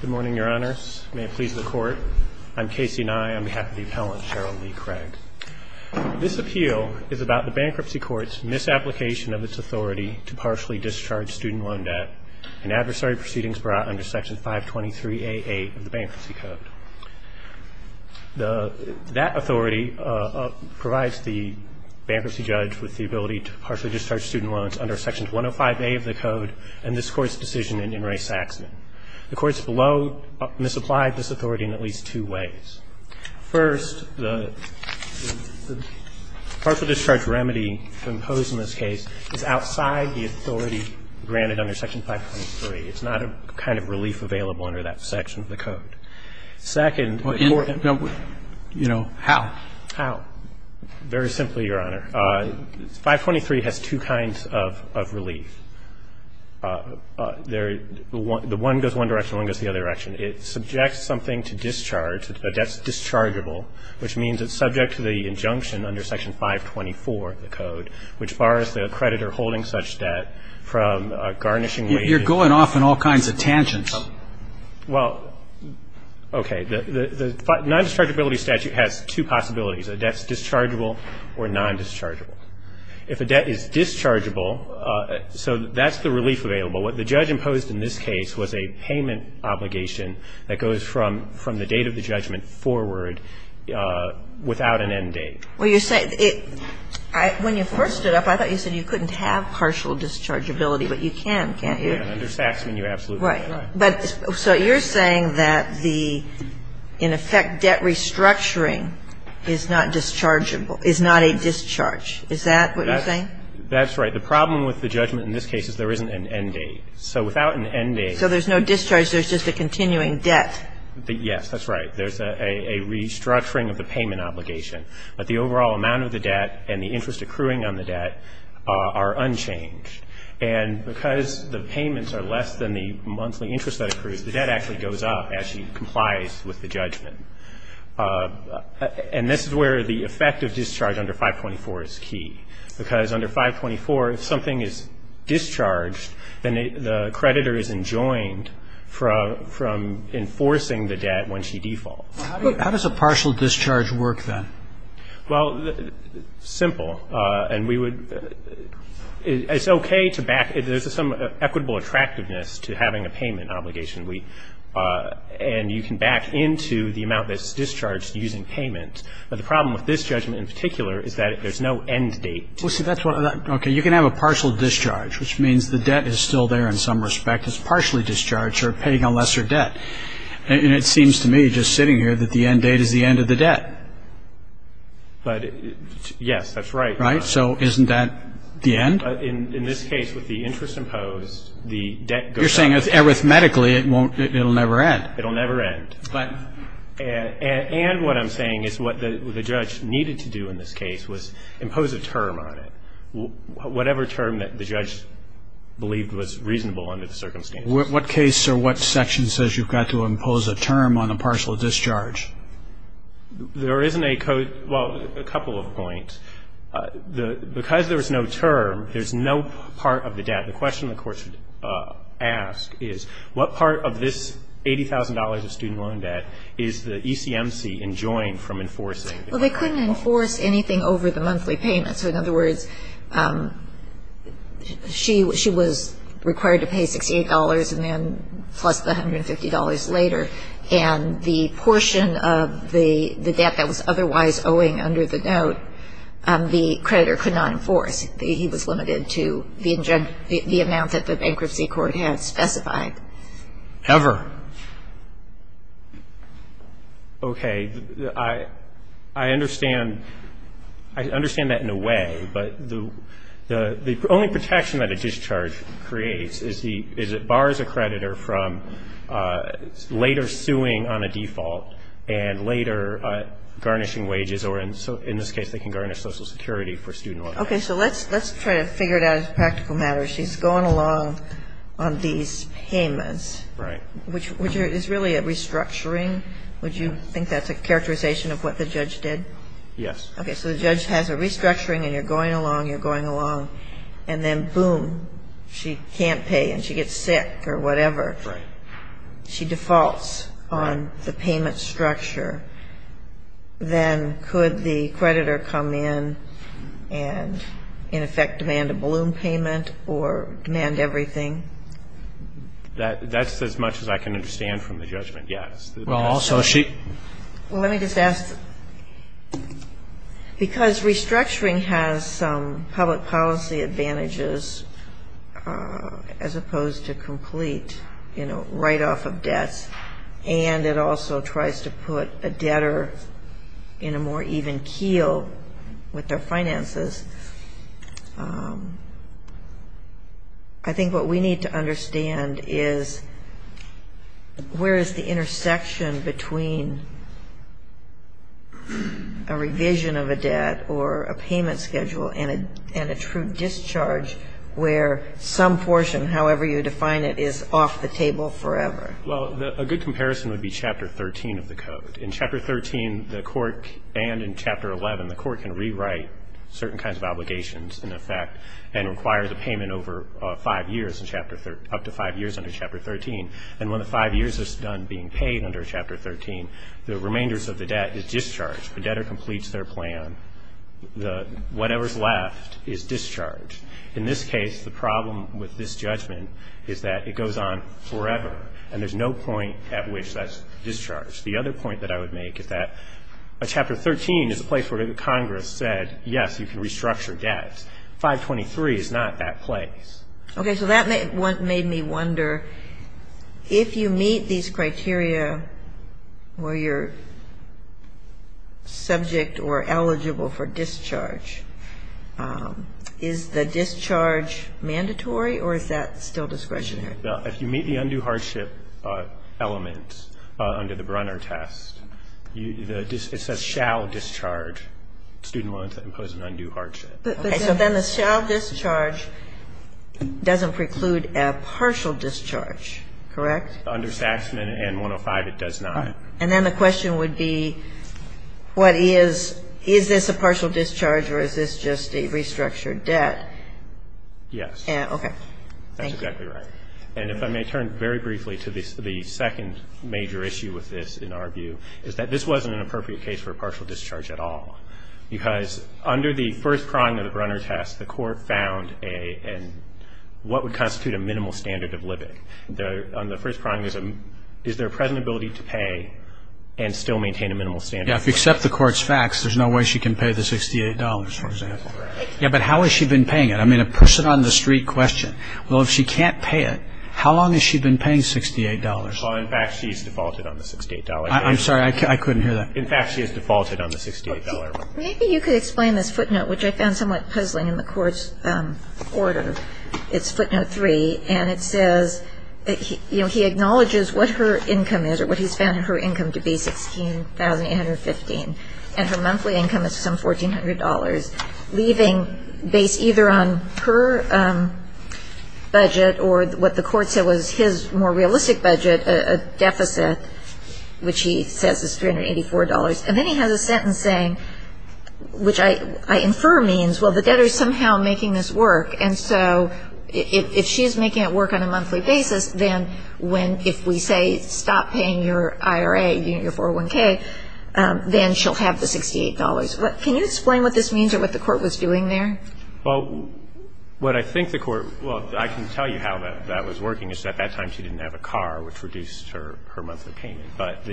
Good morning, Your Honors. May it please the Court, I'm Casey Nye on behalf of the Appellant, Cheryl Lee Craig. This appeal is about the Bankruptcy Court's misapplication of its authority to partially discharge student loan debt and adversary proceedings brought under Section 523A8 of the Bankruptcy Code. That authority provides the bankruptcy judge with the ability to partially discharge student loans under Section 105A of the Code and this Court's decision in Inouye-Saxman. The Courts below misapplied this authority in at least two ways. First, the partial discharge remedy imposed in this case is outside the authority granted under Section 523. It's not a kind of relief available under that section of the Code. Second, the Court has to do with how. How? Very simply, Your Honor, 523 has two kinds of relief. The one goes one direction, one goes the other direction. It subjects something to discharge, a debt that's dischargeable, which means it's subject to the injunction under Section 524 of the Code, which bars the creditor holding such debt from garnishing wages. You're going off on all kinds of tangents. Well, okay. The non-dischargeability statute has two possibilities, a debt that's dischargeable or non-dischargeable. If a debt is dischargeable, so that's the relief available. What the judge imposed in this case was a payment obligation that goes from the date of the judgment forward without an end date. When you first stood up, I thought you said you couldn't have partial dischargeability, but you can, can't you? Under Saxman, you absolutely can. Right. So you're saying that the, in effect, debt restructuring is not dischargeable, is not a discharge. Is that what you're saying? That's right. The problem with the judgment in this case is there isn't an end date. So without an end date. So there's no discharge, there's just a continuing debt. Yes, that's right. There's a restructuring of the payment obligation. But the overall amount of the debt and the interest accruing on the debt are unchanged. And because the payments are less than the monthly interest that accrues, the debt actually goes up as she complies with the judgment. And this is where the effect of discharge under 524 is key. Because under 524, if something is discharged, then the creditor is enjoined from enforcing the debt when she defaults. How does a partial discharge work, then? Well, simple. And we would – it's okay to back – there's some equitable attractiveness to having a payment obligation. And you can back into the amount that's discharged using payment. But the problem with this judgment in particular is that there's no end date. Okay. You can have a partial discharge, which means the debt is still there in some respect. It's partially discharged. You're paying a lesser debt. And it seems to me, just sitting here, that the end date is the end of the debt. But, yes, that's right. Right? So isn't that the end? In this case, with the interest imposed, the debt goes up. You're saying, arithmetically, it won't – it'll never end. It'll never end. But – And what I'm saying is what the judge needed to do in this case was impose a term on it. Whatever term that the judge believed was reasonable under the circumstances. What case or what section says you've got to impose a term on a partial discharge? There isn't a – well, a couple of points. Because there was no term, there's no part of the debt. The question the court should ask is, what part of this $80,000 of student loan debt is the ECMC enjoined from enforcing? Well, they couldn't enforce anything over the monthly payments. So, in other words, she was required to pay $68 and then plus the $150 later. And the portion of the debt that was otherwise owing under the note, the creditor could not enforce. He was limited to the amount that the bankruptcy court had specified. Ever. Okay. I understand – I understand that in a way. But the only protection that a discharge creates is it bars a creditor from later suing on a default and later garnishing wages or, in this case, they can garnish Social Security for student loans. Okay. So let's try to figure it out as a practical matter. She's going along on these payments. Right. Which is really a restructuring. Would you think that's a characterization of what the judge did? Yes. Okay. So the judge has a restructuring and you're going along, you're going along. And then, boom, she can't pay and she gets sick or whatever. Right. She defaults on the payment structure. Then could the creditor come in and, in effect, demand a balloon payment or demand everything? That's as much as I can understand from the judgment, yes. Well, let me just ask, because restructuring has some public policy advantages as opposed to complete, you know, write-off of debts, and it also tries to put a debtor in a more even keel with their finances, I think what we need to understand is where is the intersection between a revision of a debt or a payment schedule and a true discharge where some portion, however you define it, is off the table forever? Well, a good comparison would be Chapter 13 of the Code. In Chapter 13 and in Chapter 11, the court can rewrite certain kinds of obligations, in effect, and require the payment over five years, up to five years under Chapter 13. And when the five years is done being paid under Chapter 13, the remainders of the debt is discharged. The debtor completes their plan. Whatever's left is discharged. In this case, the problem with this judgment is that it goes on forever, and there's no point at which that's discharged. The other point that I would make is that Chapter 13 is a place where Congress said, yes, you can restructure debts. 523 is not that place. Okay, so that made me wonder, if you meet these criteria where you're subject or eligible for discharge, is the discharge mandatory or is that still discretionary? If you meet the undue hardship element under the Brunner test, it says shall discharge. A student will impose an undue hardship. Okay, so then the shall discharge doesn't preclude a partial discharge, correct? Under Saxman and 105, it does not. And then the question would be, what is, is this a partial discharge or is this just a restructured debt? Yes. Okay. That's exactly right. And if I may turn very briefly to the second major issue with this in our view, is that this wasn't an appropriate case for a partial discharge at all. Because under the first prong of the Brunner test, the court found a, what would constitute a minimal standard of living. On the first prong, is there a present ability to pay and still maintain a minimal standard? Yeah, if you accept the court's facts, there's no way she can pay the $68, for example. Yeah, but how has she been paying it? I mean, a person on the street question. Well, if she can't pay it, how long has she been paying $68? Well, in fact, she's defaulted on the $68. I'm sorry. I couldn't hear that. In fact, she has defaulted on the $68. Maybe you could explain this footnote, which I found somewhat puzzling in the court's order. It's footnote three. And it says, you know, he acknowledges what her income is or what he's found her income to be, $16,815. And her monthly income is some $1,400, leaving, based either on her budget or what the court said was his more realistic budget, a deficit, which he says is $384. And then he has a sentence saying, which I infer means, well, the debtor is somehow making this work. And so if she's making it work on a monthly basis, then when, if we say stop paying your IRA, your 401K, then she'll have the $68. Can you explain what this means or what the court was doing there? Well, what I think the court – well, I can tell you how that was working, is at that time she didn't have a car, which reduced her monthly payment. But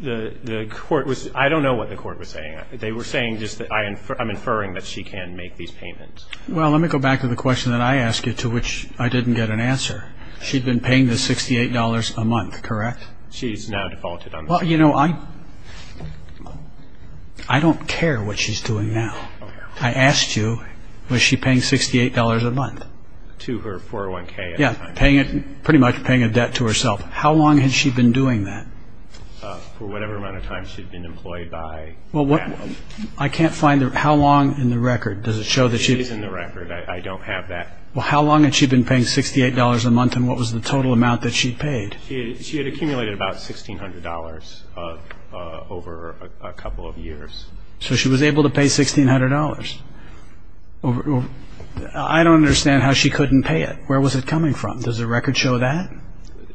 the court was – I don't know what the court was saying. They were saying just that I'm inferring that she can make these payments. Well, let me go back to the question that I asked you, to which I didn't get an answer. She'd been paying the $68 a month, correct? She's now defaulted on that. Well, you know, I don't care what she's doing now. I asked you, was she paying $68 a month? To her 401K at the time. Yeah, pretty much paying a debt to herself. How long had she been doing that? For whatever amount of time she'd been employed by that one. I can't find – how long in the record does it show that she – She is in the record. I don't have that. Well, how long had she been paying $68 a month, and what was the total amount that she paid? She had accumulated about $1,600 over a couple of years. So she was able to pay $1,600. I don't understand how she couldn't pay it. Where was it coming from? Does the record show that?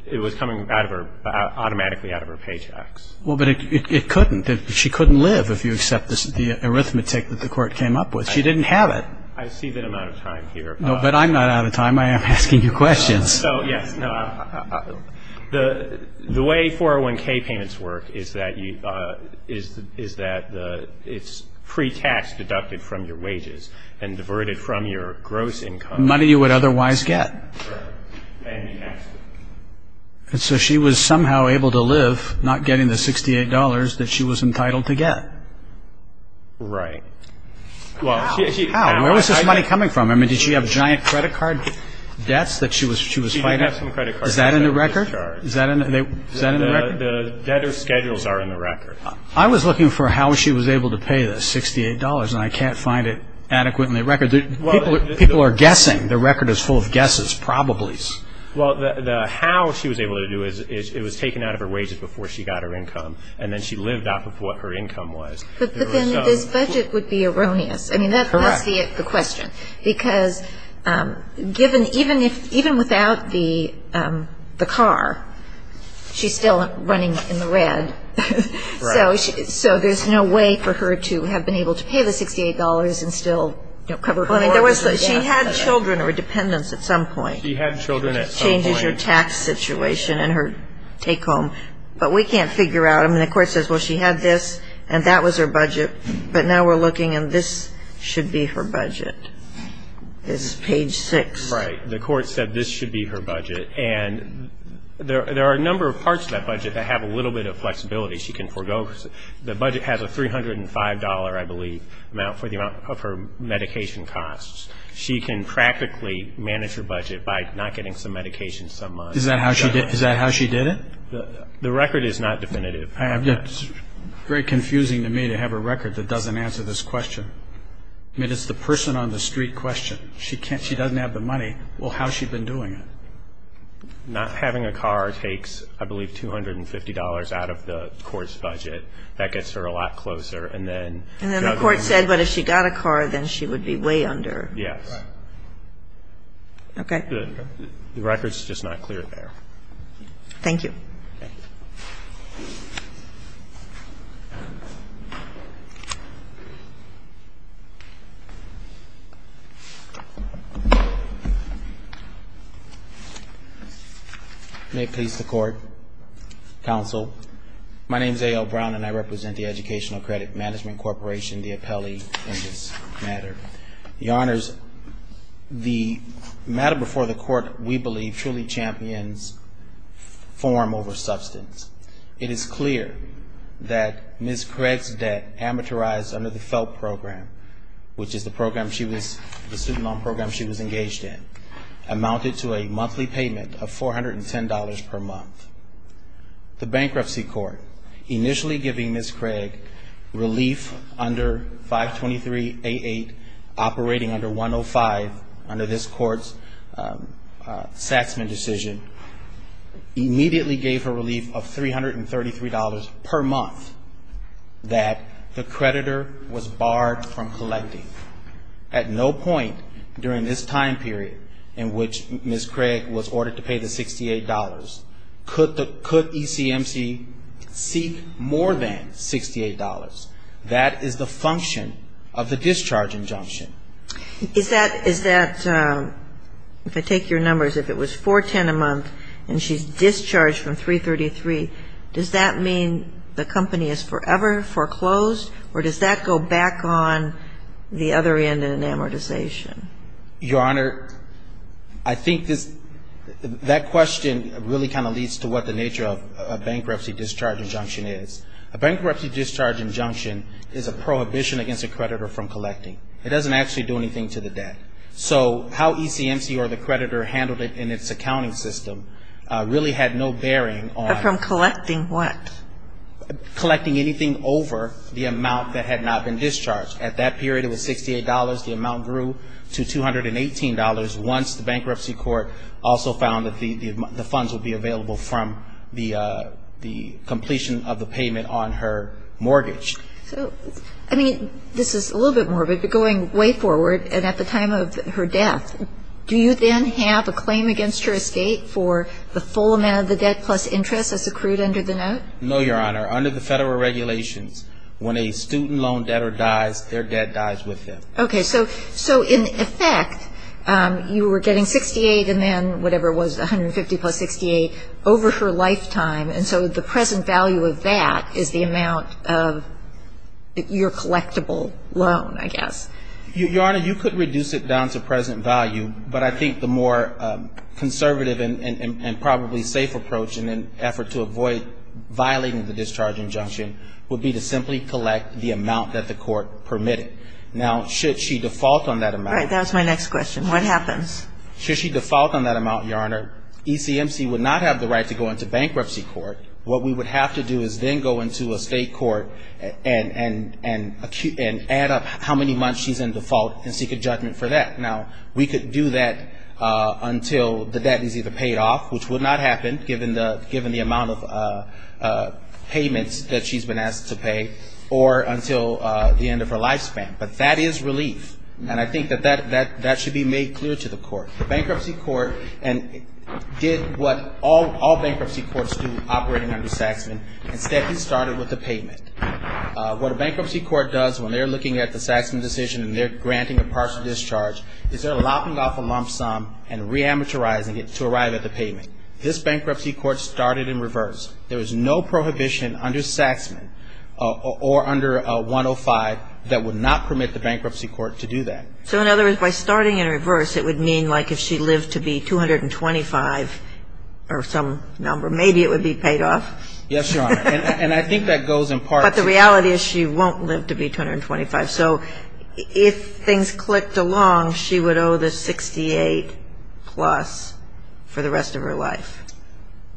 It was coming automatically out of her paychecks. Well, but it couldn't. She couldn't live if you accept the arithmetic that the court came up with. She didn't have it. I see that amount of time here. But I'm not out of time. I am asking you questions. The way 401K payments work is that it's pre-tax deducted from your wages and diverted from your gross income. Money you would otherwise get. Right. So she was somehow able to live not getting the $68 that she was entitled to get. Right. How? Where was this money coming from? I mean, did she have giant credit card debts that she was fighting? She did have some credit card debts. Is that in the record? The debtor's schedules are in the record. I was looking for how she was able to pay the $68, and I can't find it adequate in the record. People are guessing. The record is full of guesses, probably. Well, how she was able to do it was it was taken out of her wages before she got her income, and then she lived off of what her income was. But then this budget would be erroneous. Correct. I mean, that's the question, because even without the car, she's still running in the red. So there's no way for her to have been able to pay the $68 and still cover her mortgage. She had children or dependents at some point. She had children at some point. It changes your tax situation and her take-home. But we can't figure out. I mean, the court says, well, she had this, and that was her budget. But now we're looking, and this should be her budget. This is page 6. Right. The court said this should be her budget. And there are a number of parts to that budget that have a little bit of flexibility she can forego. The budget has a $305, I believe, for the amount of her medication costs. She can practically manage her budget by not getting some medication some months. Is that how she did it? The record is not definitive. It's very confusing to me to have a record that doesn't answer this question. I mean, it's the person on the street question. She doesn't have the money. Well, how has she been doing it? Not having a car takes, I believe, $250 out of the court's budget. That gets her a lot closer. And then the court said, but if she got a car, then she would be way under. Yes. Okay. The record's just not clear there. Thank you. Thank you. May it please the Court. Counsel, my name is A.L. Brown, and I represent the Educational Credit Management Corporation, the appellee, in this matter. Your Honors, the matter before the Court, we believe, truly champions form over substance. It is clear that Ms. Craig's debt amortized under the FELP program, which is the student loan program she was engaged in, amounted to a monthly payment of $410 per month. The bankruptcy court, initially giving Ms. Craig relief under 523A8, operating under 105 under this court's Saxman decision, immediately gave her relief of $333 per month that the creditor was barred from collecting. At no point during this time period in which Ms. Craig was ordered to pay the $68, could ECMC seek more than $68. That is the function of the discharge injunction. Is that, if I take your numbers, if it was 410 a month and she's discharged from 333, does that mean the company is forever foreclosed, or does that go back on the other end in an amortization? Your Honor, I think this, that question really kind of leads to what the nature of a bankruptcy discharge injunction is. A bankruptcy discharge injunction is a prohibition against a creditor from collecting. It doesn't actually do anything to the debt. So how ECMC or the creditor handled it in its accounting system really had no bearing on. But from collecting what? Collecting anything over the amount that had not been discharged. At that period, it was $68. The amount grew to $218 once the bankruptcy court also found that the funds would be available from the completion of the payment on her mortgage. So, I mean, this is a little bit morbid, but going way forward and at the time of her death, do you then have a claim against her escape for the full amount of the debt plus interest as accrued under the note? No, Your Honor. Under the federal regulations, when a student loan debtor dies, their debt dies with them. Okay. So in effect, you were getting $68 and then whatever was $150 plus $68 over her lifetime, and so the present value of that is the amount of your collectible loan, I guess. Your Honor, you could reduce it down to present value, but I think the more conservative and probably safe approach in an effort to avoid violating the discharge injunction would be to simply collect the amount that the court permitted. Now, should she default on that amount? Right. That was my next question. What happens? Should she default on that amount, Your Honor, ECMC would not have the right to go into bankruptcy court. What we would have to do is then go into a state court and add up how many months she's in default and seek a judgment for that. Now, we could do that until the debt is either paid off, which would not happen, given the amount of payments that she's been asked to pay, or until the end of her lifespan. But that is relief, and I think that that should be made clear to the court. The bankruptcy court did what all bankruptcy courts do operating under Saxman. Instead, he started with the payment. What a bankruptcy court does when they're looking at the Saxman decision and they're granting a partial discharge is they're lopping off a lump sum and re-amortizing it to arrive at the payment. This bankruptcy court started in reverse. There was no prohibition under Saxman or under 105 that would not permit the bankruptcy court to do that. So in other words, by starting in reverse, it would mean like if she lived to be 225 or some number, maybe it would be paid off? Yes, Your Honor. And I think that goes in part. But the reality is she won't live to be 225. So if things clicked along, she would owe the 68-plus for the rest of her life.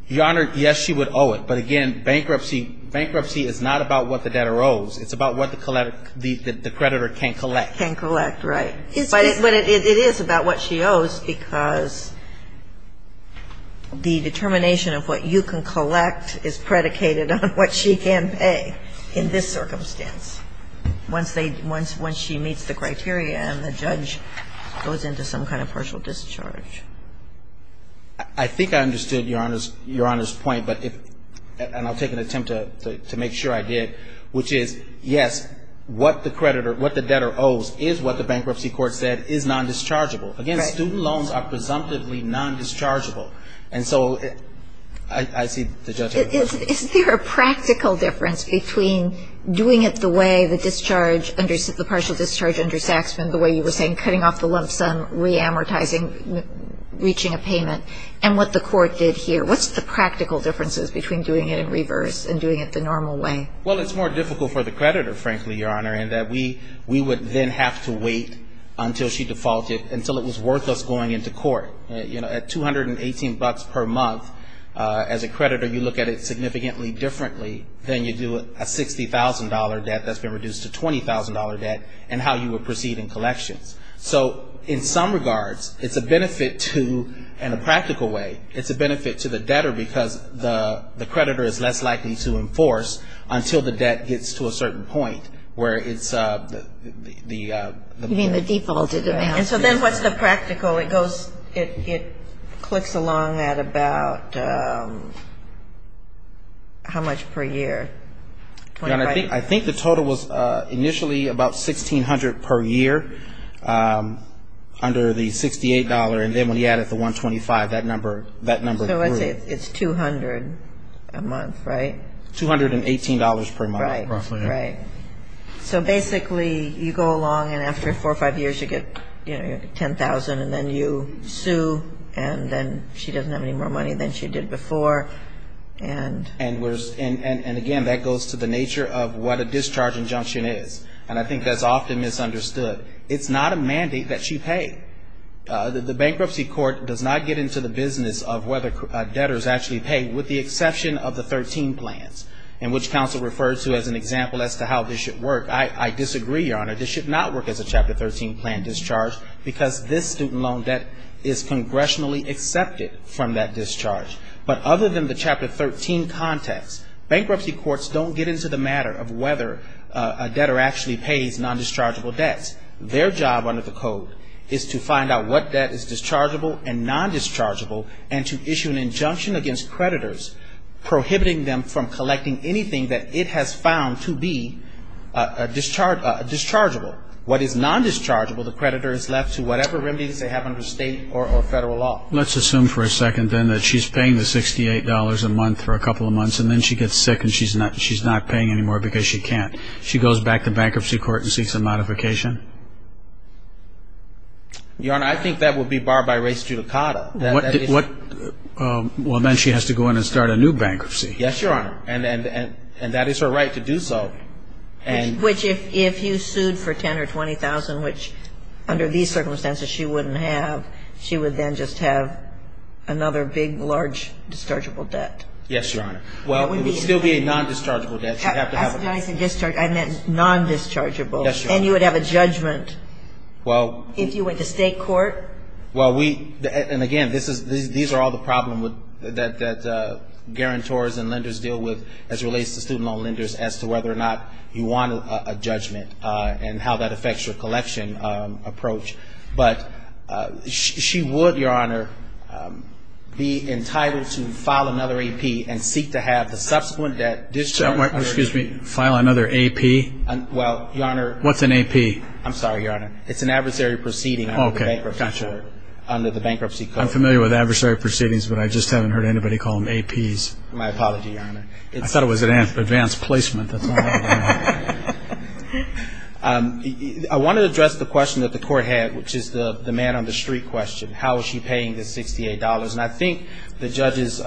Your Honor, yes, she would owe it. But again, bankruptcy is not about what the debtor owes. It's about what the creditor can collect. Can collect, right. But it is about what she owes because the determination of what you can collect is predicated on what she can pay in this circumstance once she meets the criteria and the judge goes into some kind of partial discharge. I think I understood Your Honor's point, and I'll take an attempt to make sure I did, which is, yes, what the creditor, what the debtor owes is what the bankruptcy court said is nondischargeable. Again, student loans are presumptively nondischargeable. And so I see the judge had a question. Is there a practical difference between doing it the way the discharge, the partial discharge under Saxman, the way you were saying cutting off the lump sum, reamortizing, reaching a payment, and what the court did here? What's the practical differences between doing it in reverse and doing it the normal way? Well, it's more difficult for the creditor, frankly, Your Honor, in that we would then have to wait until she defaulted, until it was worth us going into court. You know, at 218 bucks per month, as a creditor, you look at it significantly differently than you do a $60,000 debt that's been reduced to $20,000 debt and how you would proceed in collections. So in some regards, it's a benefit to, in a practical way, it's a benefit to the debtor because the creditor is less likely to enforce until the debt gets to a certain point where it's the debt. You mean the defaulted amount. And so then what's the practical? It goes, it clicks along at about how much per year? Your Honor, I think the total was initially about $1,600 per year under the $68, and then when he added the $125, that number grew. So let's say it's $200 a month, right? $218 per month, roughly. Right, right. So basically, you go along and after four or five years, you get $10,000 and then you sue and then she doesn't have any more money than she did before. And again, that goes to the nature of what a discharge injunction is, and I think that's often misunderstood. It's not a mandate that she paid. The bankruptcy court does not get into the business of whether debtors actually pay with the exception of the 13 plans, in which counsel refers to as an example as to how this should work. I disagree, Your Honor. This should not work as a Chapter 13 plan discharge because this student loan debt is congressionally accepted from that discharge. But other than the Chapter 13 context, bankruptcy courts don't get into the matter of whether a debtor actually pays non-dischargeable debts. Their job under the code is to find out what debt is dischargeable and non-dischargeable and to issue an injunction against creditors prohibiting them from collecting anything that it has found to be dischargeable. What is non-dischargeable, the creditor is left to whatever remedies they have under state or federal law. Let's assume for a second then that she's paying the $68 a month for a couple of months and then she gets sick and she's not paying anymore because she can't. She goes back to bankruptcy court and seeks a modification? Your Honor, I think that would be barred by res judicata. Well, then she has to go in and start a new bankruptcy. Yes, Your Honor. And that is her right to do so. Which if you sued for $10,000 or $20,000, which under these circumstances she wouldn't have, she would then just have another big, large dischargeable debt. Yes, Your Honor. Well, it would still be a non-dischargeable debt. I said dischargeable, I meant non-dischargeable. Yes, Your Honor. And you would have a judgment if you went to state court? Well, we, and again, these are all the problems that guarantors and lenders deal with as it relates to student loan lenders as to whether or not you want a judgment and how that affects your collection approach. But she would, Your Honor, be entitled to file another AP and seek to have the subsequent debt Excuse me, file another AP? Well, Your Honor. What's an AP? I'm sorry, Your Honor. It's an adversary proceeding under the bankruptcy code. I'm familiar with adversary proceedings, but I just haven't heard anybody call them APs. My apology, Your Honor. I thought it was an advanced placement. I want to address the question that the court had, which is the man on the street question. How is she paying the $68? And I think the judge's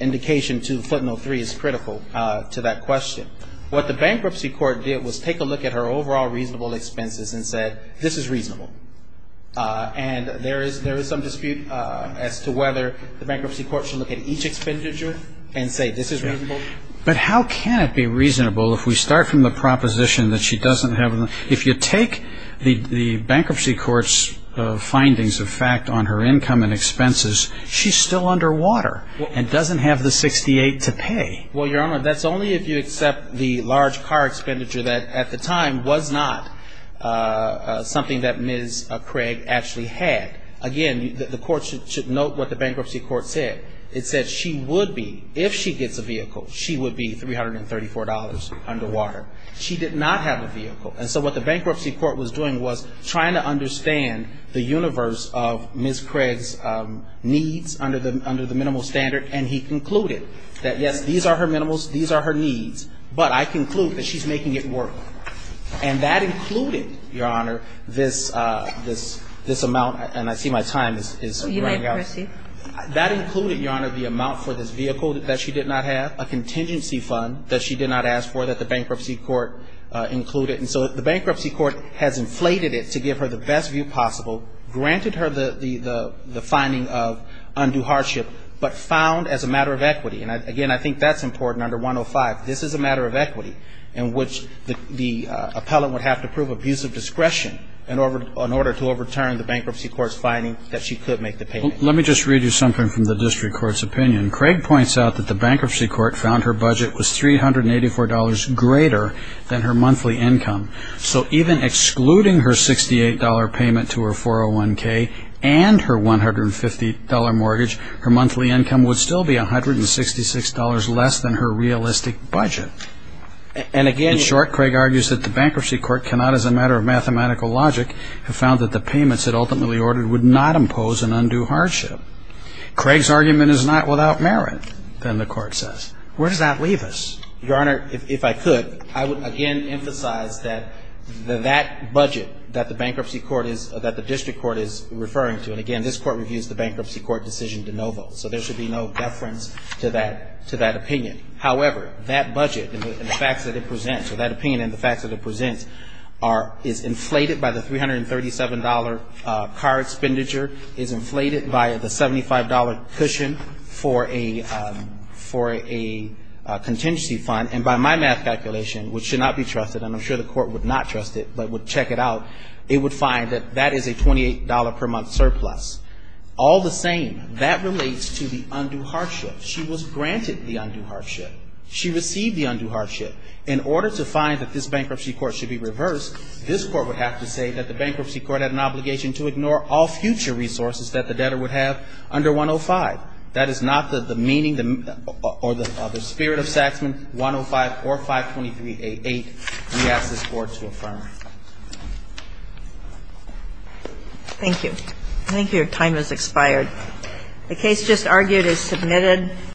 indication to footnote three is critical to that question. What the bankruptcy court did was take a look at her overall reasonable expenses and said, this is reasonable. And there is some dispute as to whether the bankruptcy court should look at each expenditure and say this is reasonable. But how can it be reasonable if we start from the proposition that she doesn't have, if you take the bankruptcy court's findings of fact on her income and expenses, she's still underwater and doesn't have the $68 to pay. Well, Your Honor, that's only if you accept the large car expenditure that, at the time, was not something that Ms. Craig actually had. Again, the court should note what the bankruptcy court said. It said she would be, if she gets a vehicle, she would be $334 underwater. She did not have a vehicle. And so what the bankruptcy court was doing was trying to understand the universe of Ms. Craig's needs under the minimal standard. And he concluded that, yes, these are her minimals, these are her needs, but I conclude that she's making it work. And that included, Your Honor, this amount, and I see my time is running out. That included, Your Honor, the amount for this vehicle that she did not have, a contingency fund that she did not ask for that the bankruptcy court included. And so the bankruptcy court has inflated it to give her the best view possible, granted her the finding of undue hardship, but found as a matter of equity. And, again, I think that's important under 105. This is a matter of equity in which the appellant would have to prove abusive discretion in order to overturn the bankruptcy court's finding that she could make the payment. Let me just read you something from the district court's opinion. Craig points out that the bankruptcy court found her budget was $384 greater than her monthly income. So even excluding her $68 payment to her 401K and her $150 mortgage, her monthly income would still be $166 less than her realistic budget. And, again, in short, Craig argues that the bankruptcy court cannot, as a matter of mathematical logic, have found that the payments it ultimately ordered would not impose an undue hardship. Craig's argument is not without merit, then the court says. Where does that leave us? Your Honor, if I could, I would again emphasize that that budget that the bankruptcy court is, that the district court is referring to, and, again, this court reviews the bankruptcy court decision de novo, so there should be no deference to that opinion. However, that budget and the facts that it presents, or that opinion and the facts that it presents, is inflated by the $337 car expenditure, is inflated by the $75 cushion for a contingency fund, and by my math calculation, which should not be trusted, and I'm sure the court would not trust it, but would check it out, it would find that that is a $28 per month surplus. All the same, that relates to the undue hardship. She was granted the undue hardship. She received the undue hardship. In order to find that this bankruptcy court should be reversed, this court would have to say that the bankruptcy court had an obligation to ignore all future resources that the debtor would have under 105. That is not the meaning or the spirit of Saxman 105 or 523A8 we ask this court to affirm. Thank you. I think your time has expired. The case just argued is submitted.